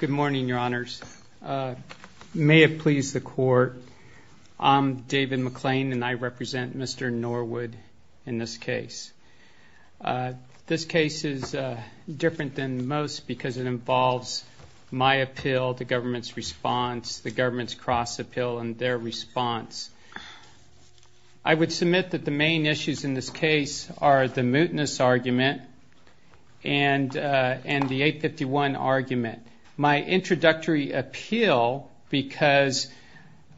Good morning, Your Honors. May it please the Court, I'm David McLean and I represent Mr. Norwood in this case. This case is different than most because it involves my appeal, the government's response, the government's cross-appeal, and their response. I would submit that the main issues in this case are the mootness argument and the 851 argument. My introductory appeal, because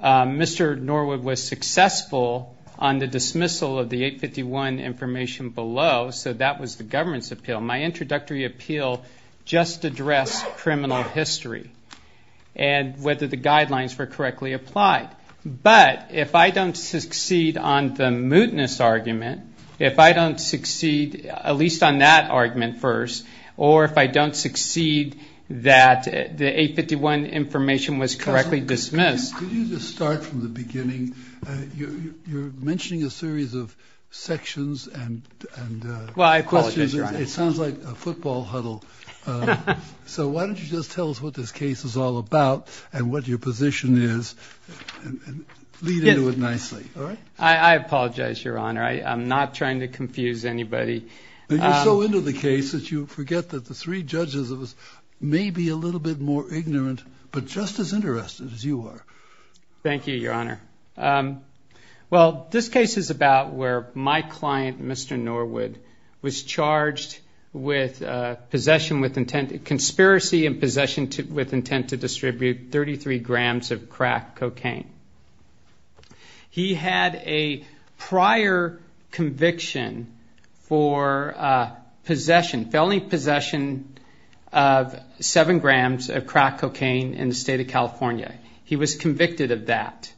Mr. Norwood was successful on the dismissal of the 851 information below, so that was the government's appeal. My introductory appeal just addressed criminal history and whether the guidelines were correctly applied. But if I don't succeed on the mootness argument, if I don't succeed at least on that argument first, or if I don't succeed that the 851 information was correctly dismissed... Could you just start from the beginning? You're mentioning a series of sections and questions. It sounds like a football huddle. So why don't you just tell us what this case is all about and what your position is and lead into it nicely. I apologize, Your Honor. I'm not trying to confuse anybody. You're so into the case that you forget that the three judges may be a little bit more ignorant, but just as interested as you are. Thank you, Your Honor. This case is about where my client, Mr. Norwood, was charged with conspiracy and possession with intent to distribute 33 grams of crack cocaine. He had a prior conviction for felony possession of 7 grams of crack cocaine in the state of California. He was convicted of that.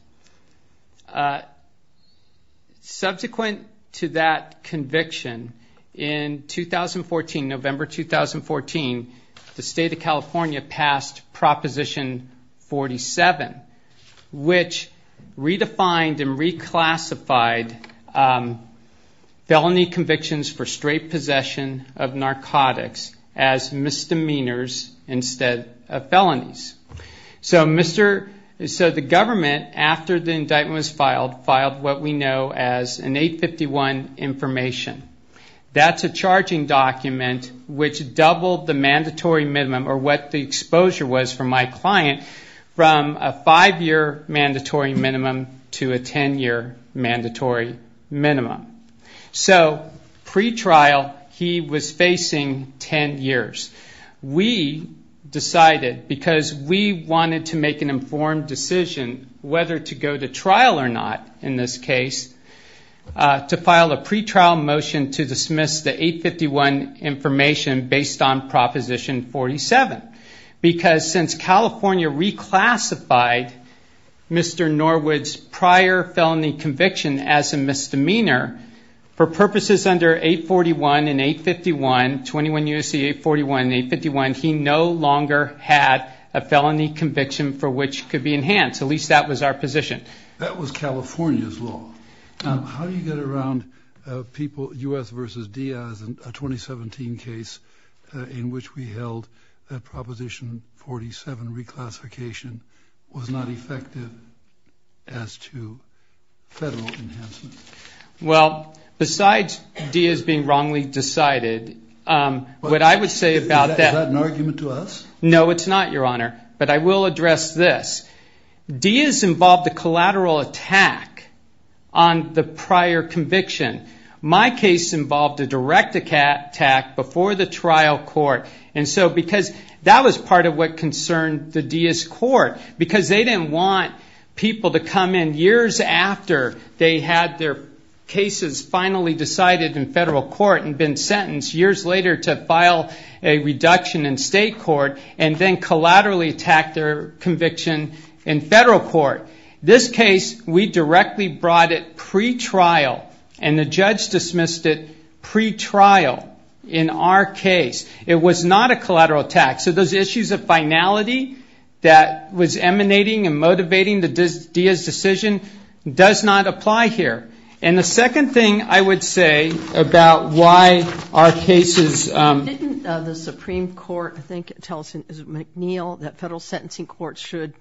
Subsequent to that conviction, in 2014, November 2014, the state of California passed Proposition 47, which redefined and reclassified felony convictions for straight possession of narcotics as misdemeanors instead of felonies. The government, after the indictment was filed, filed what we know as an 851 information. That's a charging document which doubled the mandatory minimum, or what the exposure was for my client, from a 5-year mandatory minimum to a 10-year mandatory minimum. Pre-trial, he was facing 10 years. We decided, because we wanted to make an informed decision whether to go to trial or not in this case, to file a pre-trial motion to dismiss the 851 information based on Proposition 47. Because since California reclassified Mr. Norwood's prior felony conviction as a misdemeanor, for purposes under 841 and 851, 21 U.S.C. 841 and 851, he no longer had a felony conviction for which could be enhanced. At least that was our position. That was California's law. How do you get around people, U.S. versus Diaz, a 2017 case in which we held that Proposition 47 reclassification was not effective as to federal enhancement? Well, besides Diaz being wrongly decided, what I would say about that. Is that an argument to us? No, it's not, Your Honor. But I will address this. Diaz involved a collateral attack on the prior conviction. My case involved a direct attack before the trial court. That was part of what concerned the Diaz court. Because they didn't want people to come in years after they had their cases finally decided in federal court and been sentenced years later to file a reduction in state court and then collaterally attack their conviction in federal court. This case, we directly brought it pre-trial, and the judge dismissed it pre-trial in our case. It was not a collateral attack. So those issues of finality that was emanating and motivating the Diaz decision does not apply here. And the second thing I would say about why our cases — Didn't the Supreme Court, I think it tells you, is it McNeil, that federal sentencing courts should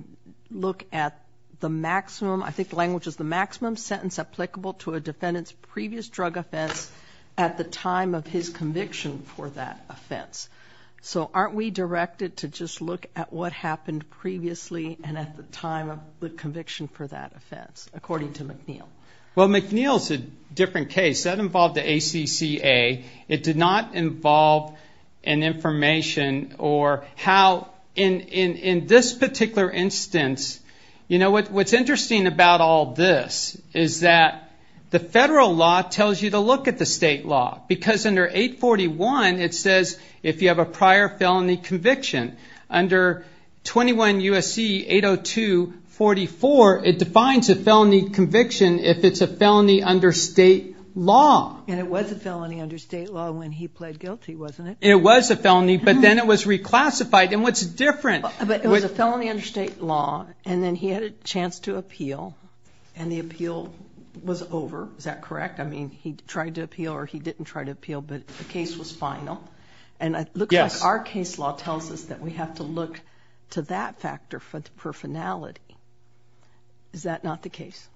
look at the maximum, I think the language is the maximum, sentence applicable to a defendant's previous drug offense at the time of his conviction for that offense. So aren't we directed to just look at what happened previously and at the time of the conviction for that offense, according to McNeil? Well, McNeil's a different case. That involved the ACCA. It did not involve an information or how — In this particular instance, you know, what's interesting about all this is that the federal law tells you to look at the state law, because under 841 it says if you have a prior felony conviction. Under 21 U.S.C. 802.44, it defines a felony conviction if it's a felony under state law. And it was a felony under state law when he pled guilty, wasn't it? It was a felony, but then it was reclassified. And what's different — But it was a felony under state law, and then he had a chance to appeal, and the appeal was over. Is that correct? I mean, he tried to appeal or he didn't try to appeal, but the case was final. And it looks like our case law tells us that we have to look to that factor for finality. Is that not the case?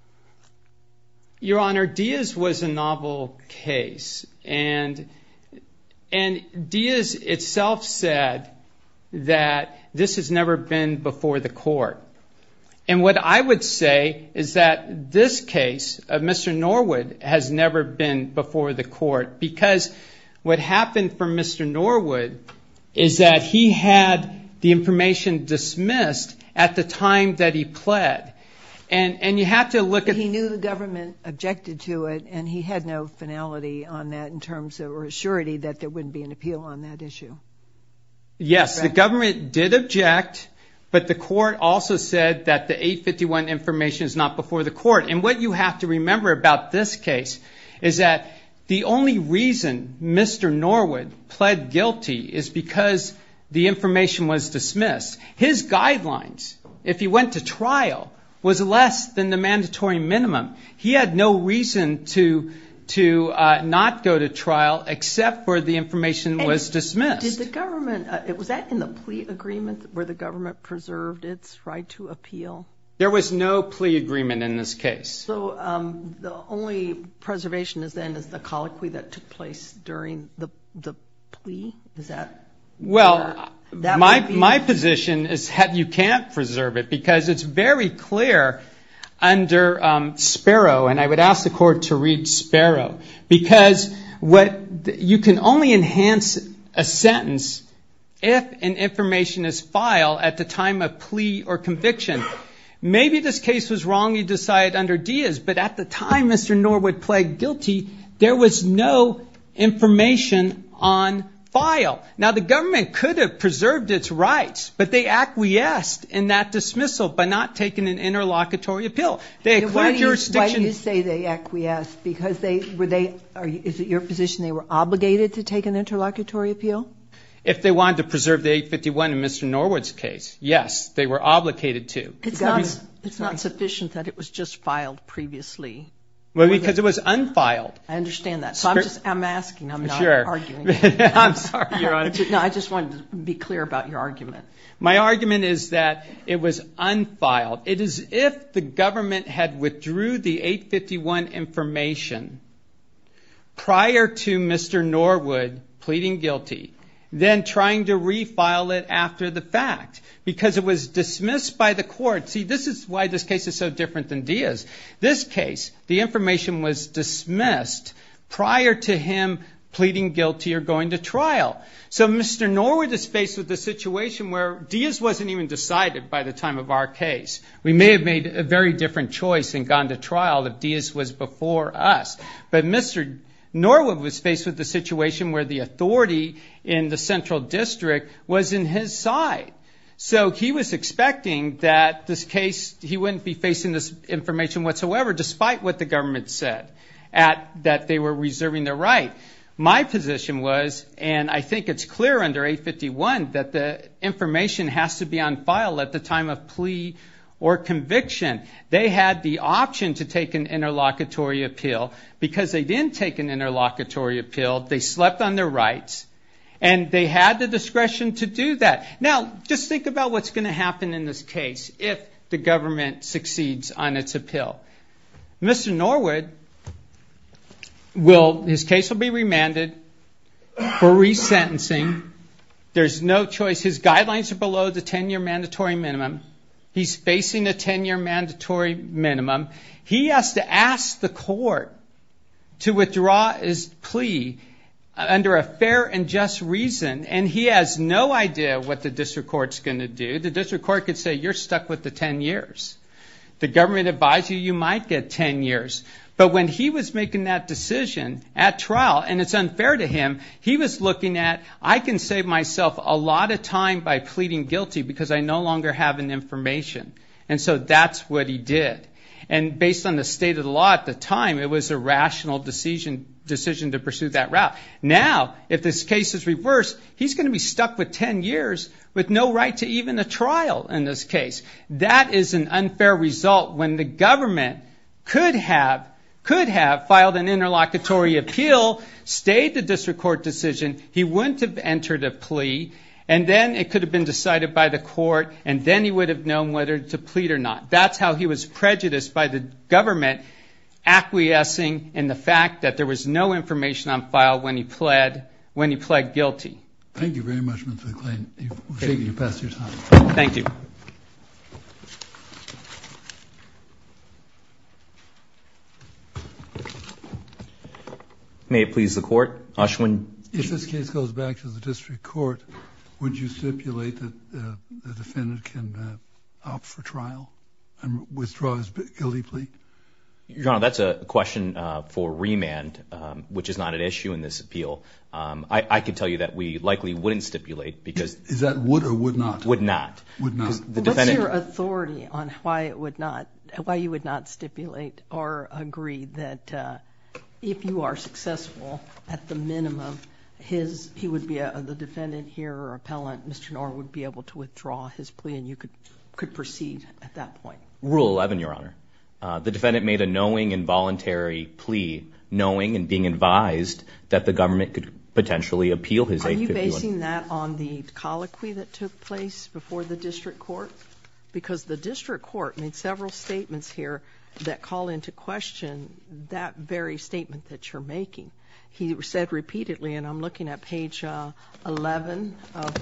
Your Honor, Diaz was a novel case. And Diaz itself said that this has never been before the court. And what I would say is that this case of Mr. Norwood has never been before the court because what happened for Mr. Norwood is that he had the information dismissed at the time that he pled. And you have to look at — on that in terms of assurity that there wouldn't be an appeal on that issue. Yes, the government did object, but the court also said that the 851 information is not before the court. And what you have to remember about this case is that the only reason Mr. Norwood pled guilty is because the information was dismissed. His guidelines, if he went to trial, was less than the mandatory minimum. He had no reason to not go to trial except for the information was dismissed. And did the government — was that in the plea agreement where the government preserved its right to appeal? There was no plea agreement in this case. So the only preservation then is the colloquy that took place during the plea? Is that — Well, my position is you can't preserve it because it's very clear under Sparrow, and I would ask the court to read Sparrow, because what — you can only enhance a sentence if an information is filed at the time of plea or conviction. Maybe this case was wrongly decided under Diaz, but at the time Mr. Norwood pled guilty, there was no information on file. Now, the government could have preserved its rights, but they acquiesced in that dismissal by not taking an interlocutory appeal. Why do you say they acquiesced? Is it your position they were obligated to take an interlocutory appeal? If they wanted to preserve the 851 in Mr. Norwood's case, yes, they were obligated to. It's not sufficient that it was just filed previously. Well, because it was unfiled. I understand that. So I'm just — I'm asking. I'm not arguing. I'm sorry, Your Honor. No, I just wanted to be clear about your argument. My argument is that it was unfiled. It is if the government had withdrew the 851 information prior to Mr. Norwood pleading guilty, then trying to refile it after the fact, because it was dismissed by the court. See, this is why this case is so different than Diaz. This case, the information was dismissed prior to him pleading guilty or going to trial. So Mr. Norwood is faced with a situation where Diaz wasn't even decided by the time of our case. We may have made a very different choice and gone to trial if Diaz was before us. But Mr. Norwood was faced with a situation where the authority in the central district was in his side. So he was expecting that this case, he wouldn't be facing this information whatsoever, despite what the government said, that they were reserving their right. My position was, and I think it's clear under 851, that the information has to be unfiled at the time of plea or conviction. They had the option to take an interlocutory appeal. Because they didn't take an interlocutory appeal, they slept on their rights, and they had the discretion to do that. Now, just think about what's going to happen in this case if the government succeeds on its appeal. Mr. Norwood, his case will be remanded for resentencing. There's no choice. His guidelines are below the 10-year mandatory minimum. He's facing a 10-year mandatory minimum. He has to ask the court to withdraw his plea under a fair and just reason, and he has no idea what the district court's going to do. The district court could say, you're stuck with the 10 years. The government advised you you might get 10 years. But when he was making that decision at trial, and it's unfair to him, he was looking at, I can save myself a lot of time by pleading guilty because I no longer have an information. And so that's what he did. And based on the state of the law at the time, it was a rational decision to pursue that route. Now, if this case is reversed, he's going to be stuck with 10 years with no right to even a trial in this case. That is an unfair result when the government could have filed an interlocutory appeal, stayed the district court decision, he wouldn't have entered a plea, and then it could have been decided by the court, and then he would have known whether to plead or not. That's how he was prejudiced by the government, acquiescing in the fact that there was no information on file when he pled guilty. Thank you very much, Mr. McClain. You've passed your time. Thank you. May it please the Court? Ashwin. If this case goes back to the district court, would you stipulate that the defendant can opt for trial and withdraw his guilty plea? Your Honor, that's a question for remand, which is not an issue in this appeal. I can tell you that we likely wouldn't stipulate because— Is that would or would not? Would not. Would not. What's your authority on why you would not stipulate or agree that if you are successful, at the minimum, the defendant here or appellant, Mr. Knorr, would be able to withdraw his plea and you could proceed at that point? Rule 11, Your Honor. The defendant made a knowing and voluntary plea, knowing and being advised that the government could potentially appeal his 851. Are you basing that on the colloquy that took place before the district court? Because the district court made several statements here that call into question that very statement that you're making. He said repeatedly, and I'm looking at page 11 of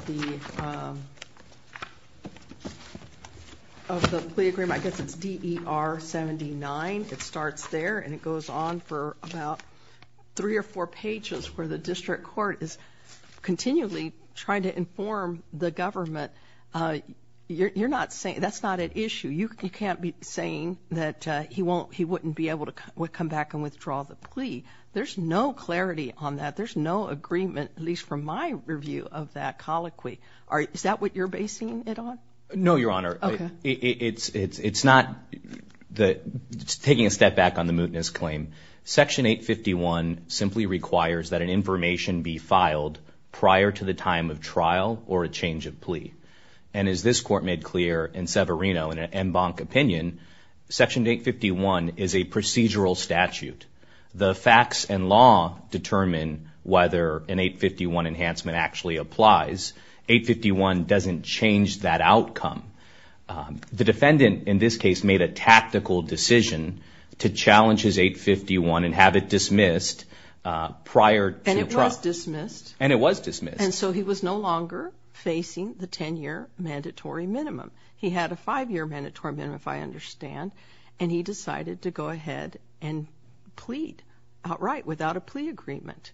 the plea agreement. I guess it's DER 79. It starts there and it goes on for about three or four pages where the district court is continually trying to inform the government. That's not an issue. You can't be saying that he wouldn't be able to come back and withdraw the plea. There's no clarity on that. There's no agreement, at least from my review of that colloquy. Is that what you're basing it on? No, Your Honor. Okay. It's not taking a step back on the mootness claim. Section 851 simply requires that an information be filed prior to the time of trial or a change of plea. And as this court made clear in Severino in an en banc opinion, Section 851 is a procedural statute. The facts and law determine whether an 851 enhancement actually applies. 851 doesn't change that outcome. The defendant in this case made a tactical decision to challenge his 851 and have it dismissed prior to trial. And it was dismissed. And it was dismissed. And so he was no longer facing the 10-year mandatory minimum. He had a five-year mandatory minimum, if I understand, and he decided to go ahead and plead outright without a plea agreement.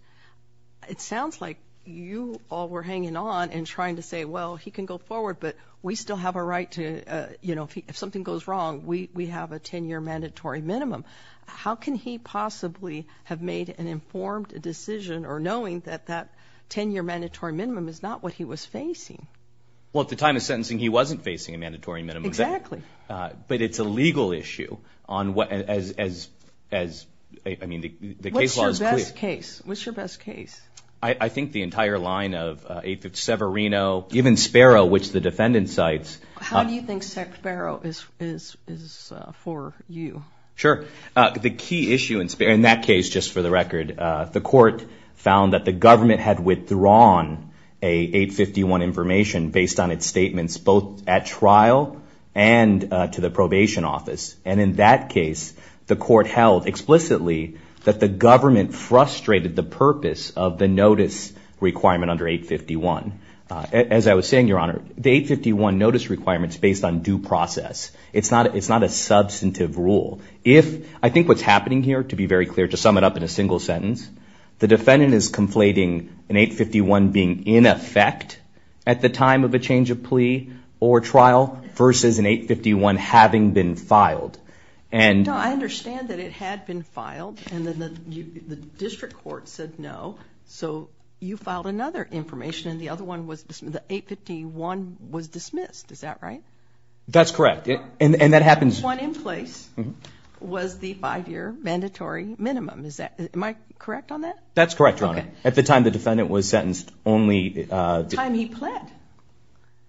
It sounds like you all were hanging on and trying to say, well, he can go forward, but we still have a right to, you know, if something goes wrong, we have a 10-year mandatory minimum. How can he possibly have made an informed decision or knowing that that 10-year mandatory minimum is not what he was facing? Well, at the time of sentencing, he wasn't facing a mandatory minimum. Exactly. But it's a legal issue as, I mean, the case law is clear. What's your best case? What's your best case? I think the entire line of 850 Severino, even Sparrow, which the defendant cites. How do you think Sparrow is for you? Sure. The key issue in that case, just for the record, the court found that the government had withdrawn an 851 information based on its statements both at trial and to the probation office. And in that case, the court held explicitly that the government frustrated the purpose of the notice requirement under 851. As I was saying, Your Honor, the 851 notice requirement is based on due process. It's not a substantive rule. I think what's happening here, to be very clear, to sum it up in a single sentence, the defendant is conflating an 851 being in effect at the time of a change of plea or trial versus an 851 having been filed. No, I understand that it had been filed and the district court said no. So you filed another information and the other one was, the 851 was dismissed. Is that right? That's correct. And that happens. The one in place was the five-year mandatory minimum. Am I correct on that? That's correct, Your Honor. At the time the defendant was sentenced only. The time he pled.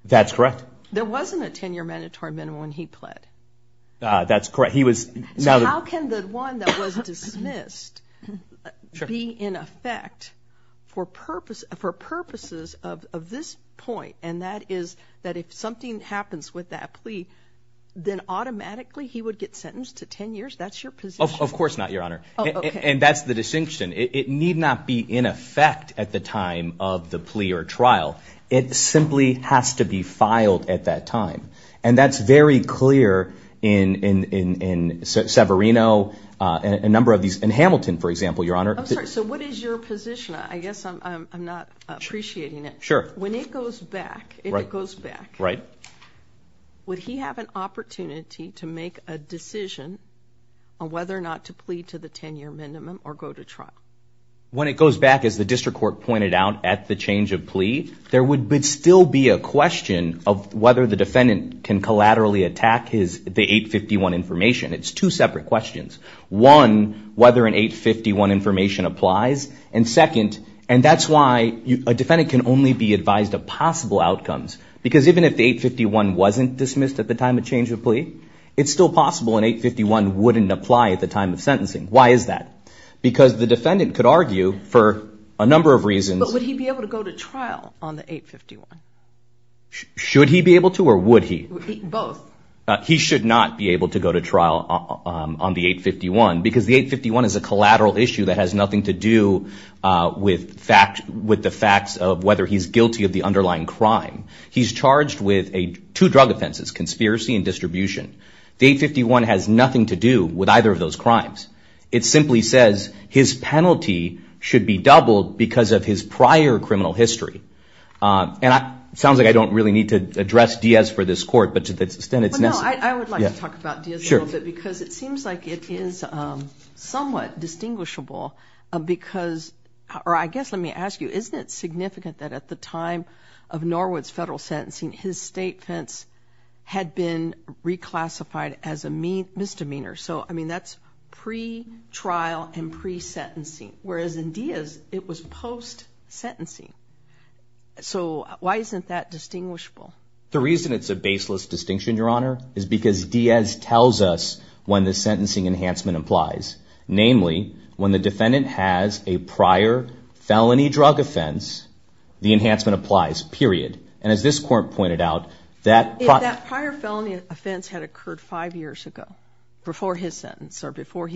That's correct. There wasn't a 10-year mandatory minimum when he pled. That's correct. So how can the one that was dismissed be in effect for purposes of this point, and that is that if something happens with that plea, then automatically he would get sentenced to 10 years? That's your position. Of course not, Your Honor. And that's the distinction. It need not be in effect at the time of the plea or trial. It simply has to be filed at that time. And that's very clear in Severino and a number of these, in Hamilton, for example, Your Honor. I'm sorry, so what is your position? I guess I'm not appreciating it. Sure. When it goes back, if it goes back, would he have an opportunity to make a decision on whether or not to plea to the 10-year minimum or go to trial? When it goes back, as the district court pointed out, at the change of plea, there would still be a question of whether the defendant can collaterally attack the 851 information. It's two separate questions. One, whether an 851 information applies, and second, and that's why a defendant can only be advised of possible outcomes, because even if the 851 wasn't dismissed at the time of change of plea, it's still possible an 851 wouldn't apply at the time of sentencing. Why is that? Because the defendant could argue for a number of reasons. But would he be able to go to trial on the 851? Should he be able to or would he? Both. He should not be able to go to trial on the 851, because the 851 is a collateral issue that has nothing to do with the facts of whether he's guilty of the underlying crime. He's charged with two drug offenses, conspiracy and distribution. The 851 has nothing to do with either of those crimes. It simply says his penalty should be doubled because of his prior criminal history. And it sounds like I don't really need to address Diaz for this court, but to the extent it's necessary. Well, no, I would like to talk about Diaz a little bit, because it seems like it is somewhat distinguishable because, or I guess let me ask you, isn't it significant that at the time of Norwood's federal sentencing, his state fence had been reclassified as a misdemeanor? So, I mean, that's pre-trial and pre-sentencing. Whereas in Diaz, it was post-sentencing. So why isn't that distinguishable? The reason it's a baseless distinction, Your Honor, is because Diaz tells us when the sentencing enhancement applies. Namely, when the defendant has a prior felony drug offense, the enhancement applies, period. And as this court pointed out, that prior felony offense had occurred five years ago, before his sentence, or before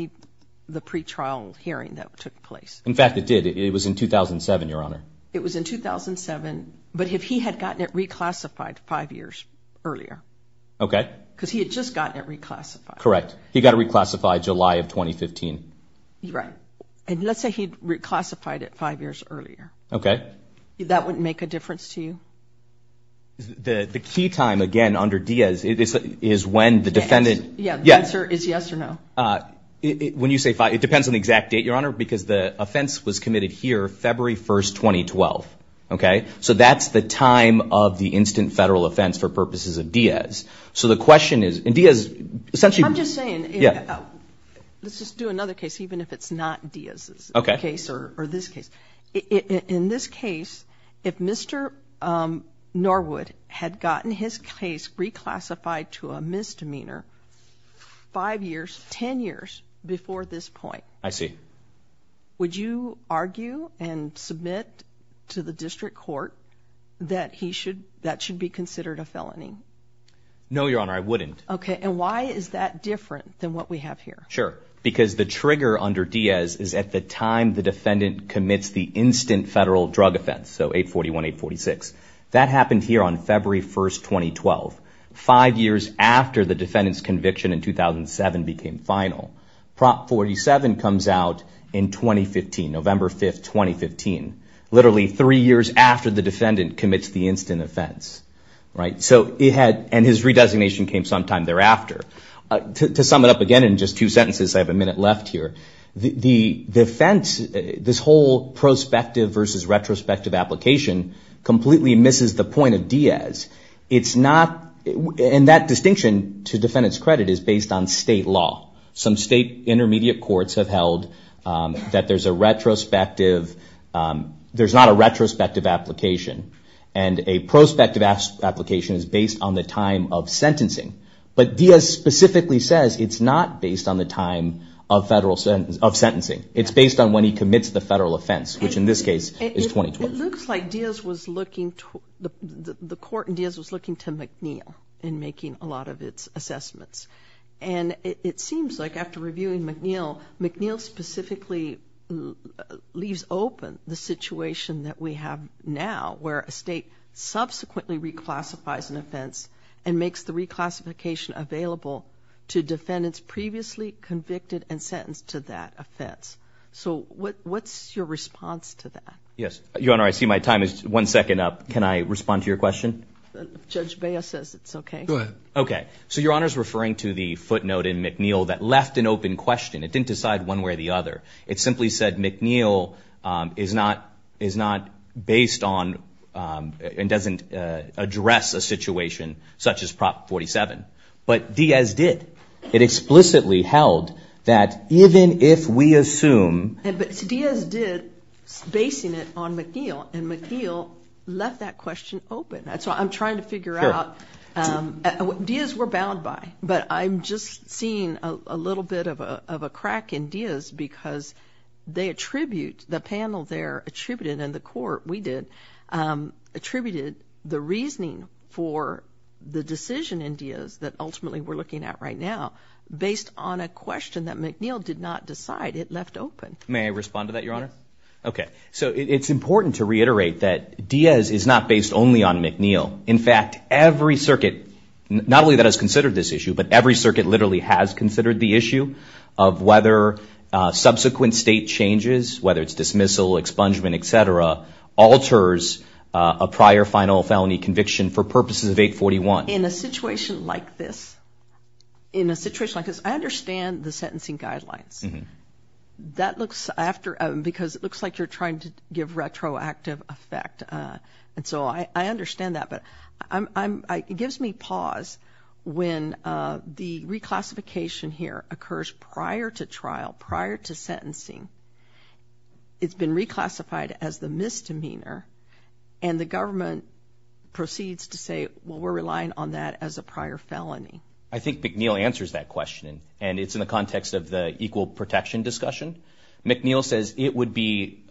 the pre-trial hearing that took place. In fact, it did. It was in 2007, Your Honor. It was in 2007. But if he had gotten it reclassified five years earlier. Okay. Because he had just gotten it reclassified. Correct. He got it reclassified July of 2015. Right. And let's say he'd reclassified it five years earlier. Okay. That wouldn't make a difference to you? The key time, again, under Diaz, is when the defendant. Yes. Yeah. The answer is yes or no. When you say five, it depends on the exact date, Your Honor, because the offense was committed here February 1, 2012. Okay. So that's the time of the instant federal offense for purposes of Diaz. So the question is, and Diaz essentially. I'm just saying. Yeah. Let's just do another case, even if it's not Diaz's case or this case. In this case, if Mr. Norwood had gotten his case reclassified to a misdemeanor five years, ten years before this point. I see. Would you argue and submit to the district court that that should be considered a felony? No, Your Honor, I wouldn't. Okay. And why is that different than what we have here? Sure. Because the trigger under Diaz is at the time the defendant commits the instant federal drug offense. So 841-846. That happened here on February 1, 2012, five years after the defendant's conviction in 2007 became final. Prop 47 comes out in 2015, November 5, 2015. Literally three years after the defendant commits the instant offense. And his redesignation came sometime thereafter. To sum it up again in just two sentences, I have a minute left here. The defense, this whole prospective versus retrospective application completely misses the point of Diaz. It's not, and that distinction to defendant's credit is based on state law. Some state intermediate courts have held that there's a retrospective, there's not a retrospective application. And a prospective application is based on the time of sentencing. But Diaz specifically says it's not based on the time of federal, of sentencing. It's based on when he commits the federal offense, which in this case is 2012. It looks like Diaz was looking, the court in Diaz was looking to McNeil in making a lot of its assessments. And it seems like after reviewing McNeil, McNeil specifically leaves open the situation that we have now, where a state subsequently reclassifies an offense and makes the reclassification available to defendants previously convicted and sentenced to that offense. So what's your response to that? Yes, Your Honor, I see my time is one second up. Can I respond to your question? Judge Baez says it's okay. Go ahead. Okay, so Your Honor is referring to the footnote in McNeil that left an open question. It didn't decide one way or the other. It simply said McNeil is not based on and doesn't address a situation such as Prop 47. But Diaz did. It explicitly held that even if we assume. But Diaz did, basing it on McNeil, and McNeil left that question open. So I'm trying to figure out, Diaz we're bound by, but I'm just seeing a little bit of a crack in Diaz because they attribute, the panel there attributed and the court, we did, attributed the reasoning for the decision in Diaz that ultimately we're looking at right now based on a question that McNeil did not decide. It left open. May I respond to that, Your Honor? Okay. So it's important to reiterate that Diaz is not based only on McNeil. In fact, every circuit, not only that has considered this issue, but every circuit literally has considered the issue of whether subsequent state changes, whether it's dismissal, expungement, et cetera, alters a prior final felony conviction for purposes of 841. In a situation like this, in a situation like this, I understand the sentencing guidelines. That looks after, because it looks like you're trying to give retroactive effect. And so I understand that. But it gives me pause when the reclassification here occurs prior to trial, prior to sentencing. It's been reclassified as the misdemeanor, and the government proceeds to say, well, we're relying on that as a prior felony. I think McNeil answers that question, and it's in the context of the equal protection discussion. McNeil says it would be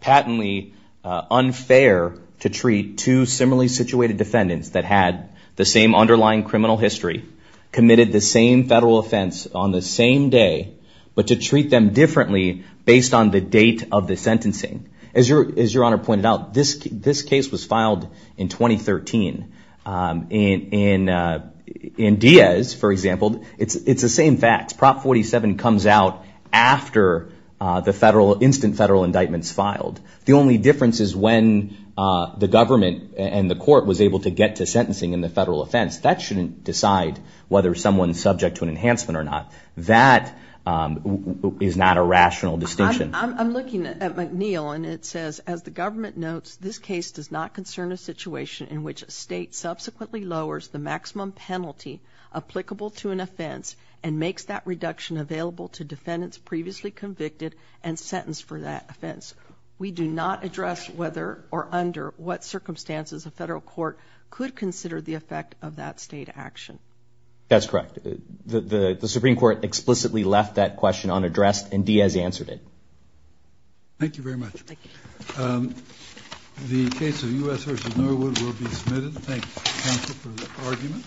patently unfair to treat two similarly situated defendants that had the same underlying criminal history, committed the same federal offense on the same day, but to treat them differently based on the date of the sentencing. As Your Honor pointed out, this case was filed in 2013. In Diaz, for example, it's the same facts. Prop 47 comes out after the federal, instant federal indictments filed. The only difference is when the government and the court was able to get to sentencing in the federal offense. That shouldn't decide whether someone's subject to an enhancement or not. That is not a rational distinction. I'm looking at McNeil, and it says, as the government notes, this case does not concern a situation in which a state subsequently lowers the maximum penalty applicable to an offense and makes that reduction available to defendants previously convicted and sentenced for that offense. We do not address whether or under what circumstances a federal court could consider the effect of that state action. That's correct. The Supreme Court explicitly left that question unaddressed, and Diaz answered it. Thank you very much. Thank you. The case of U.S. v. Norwood will be submitted. Thank you, counsel, for the argument.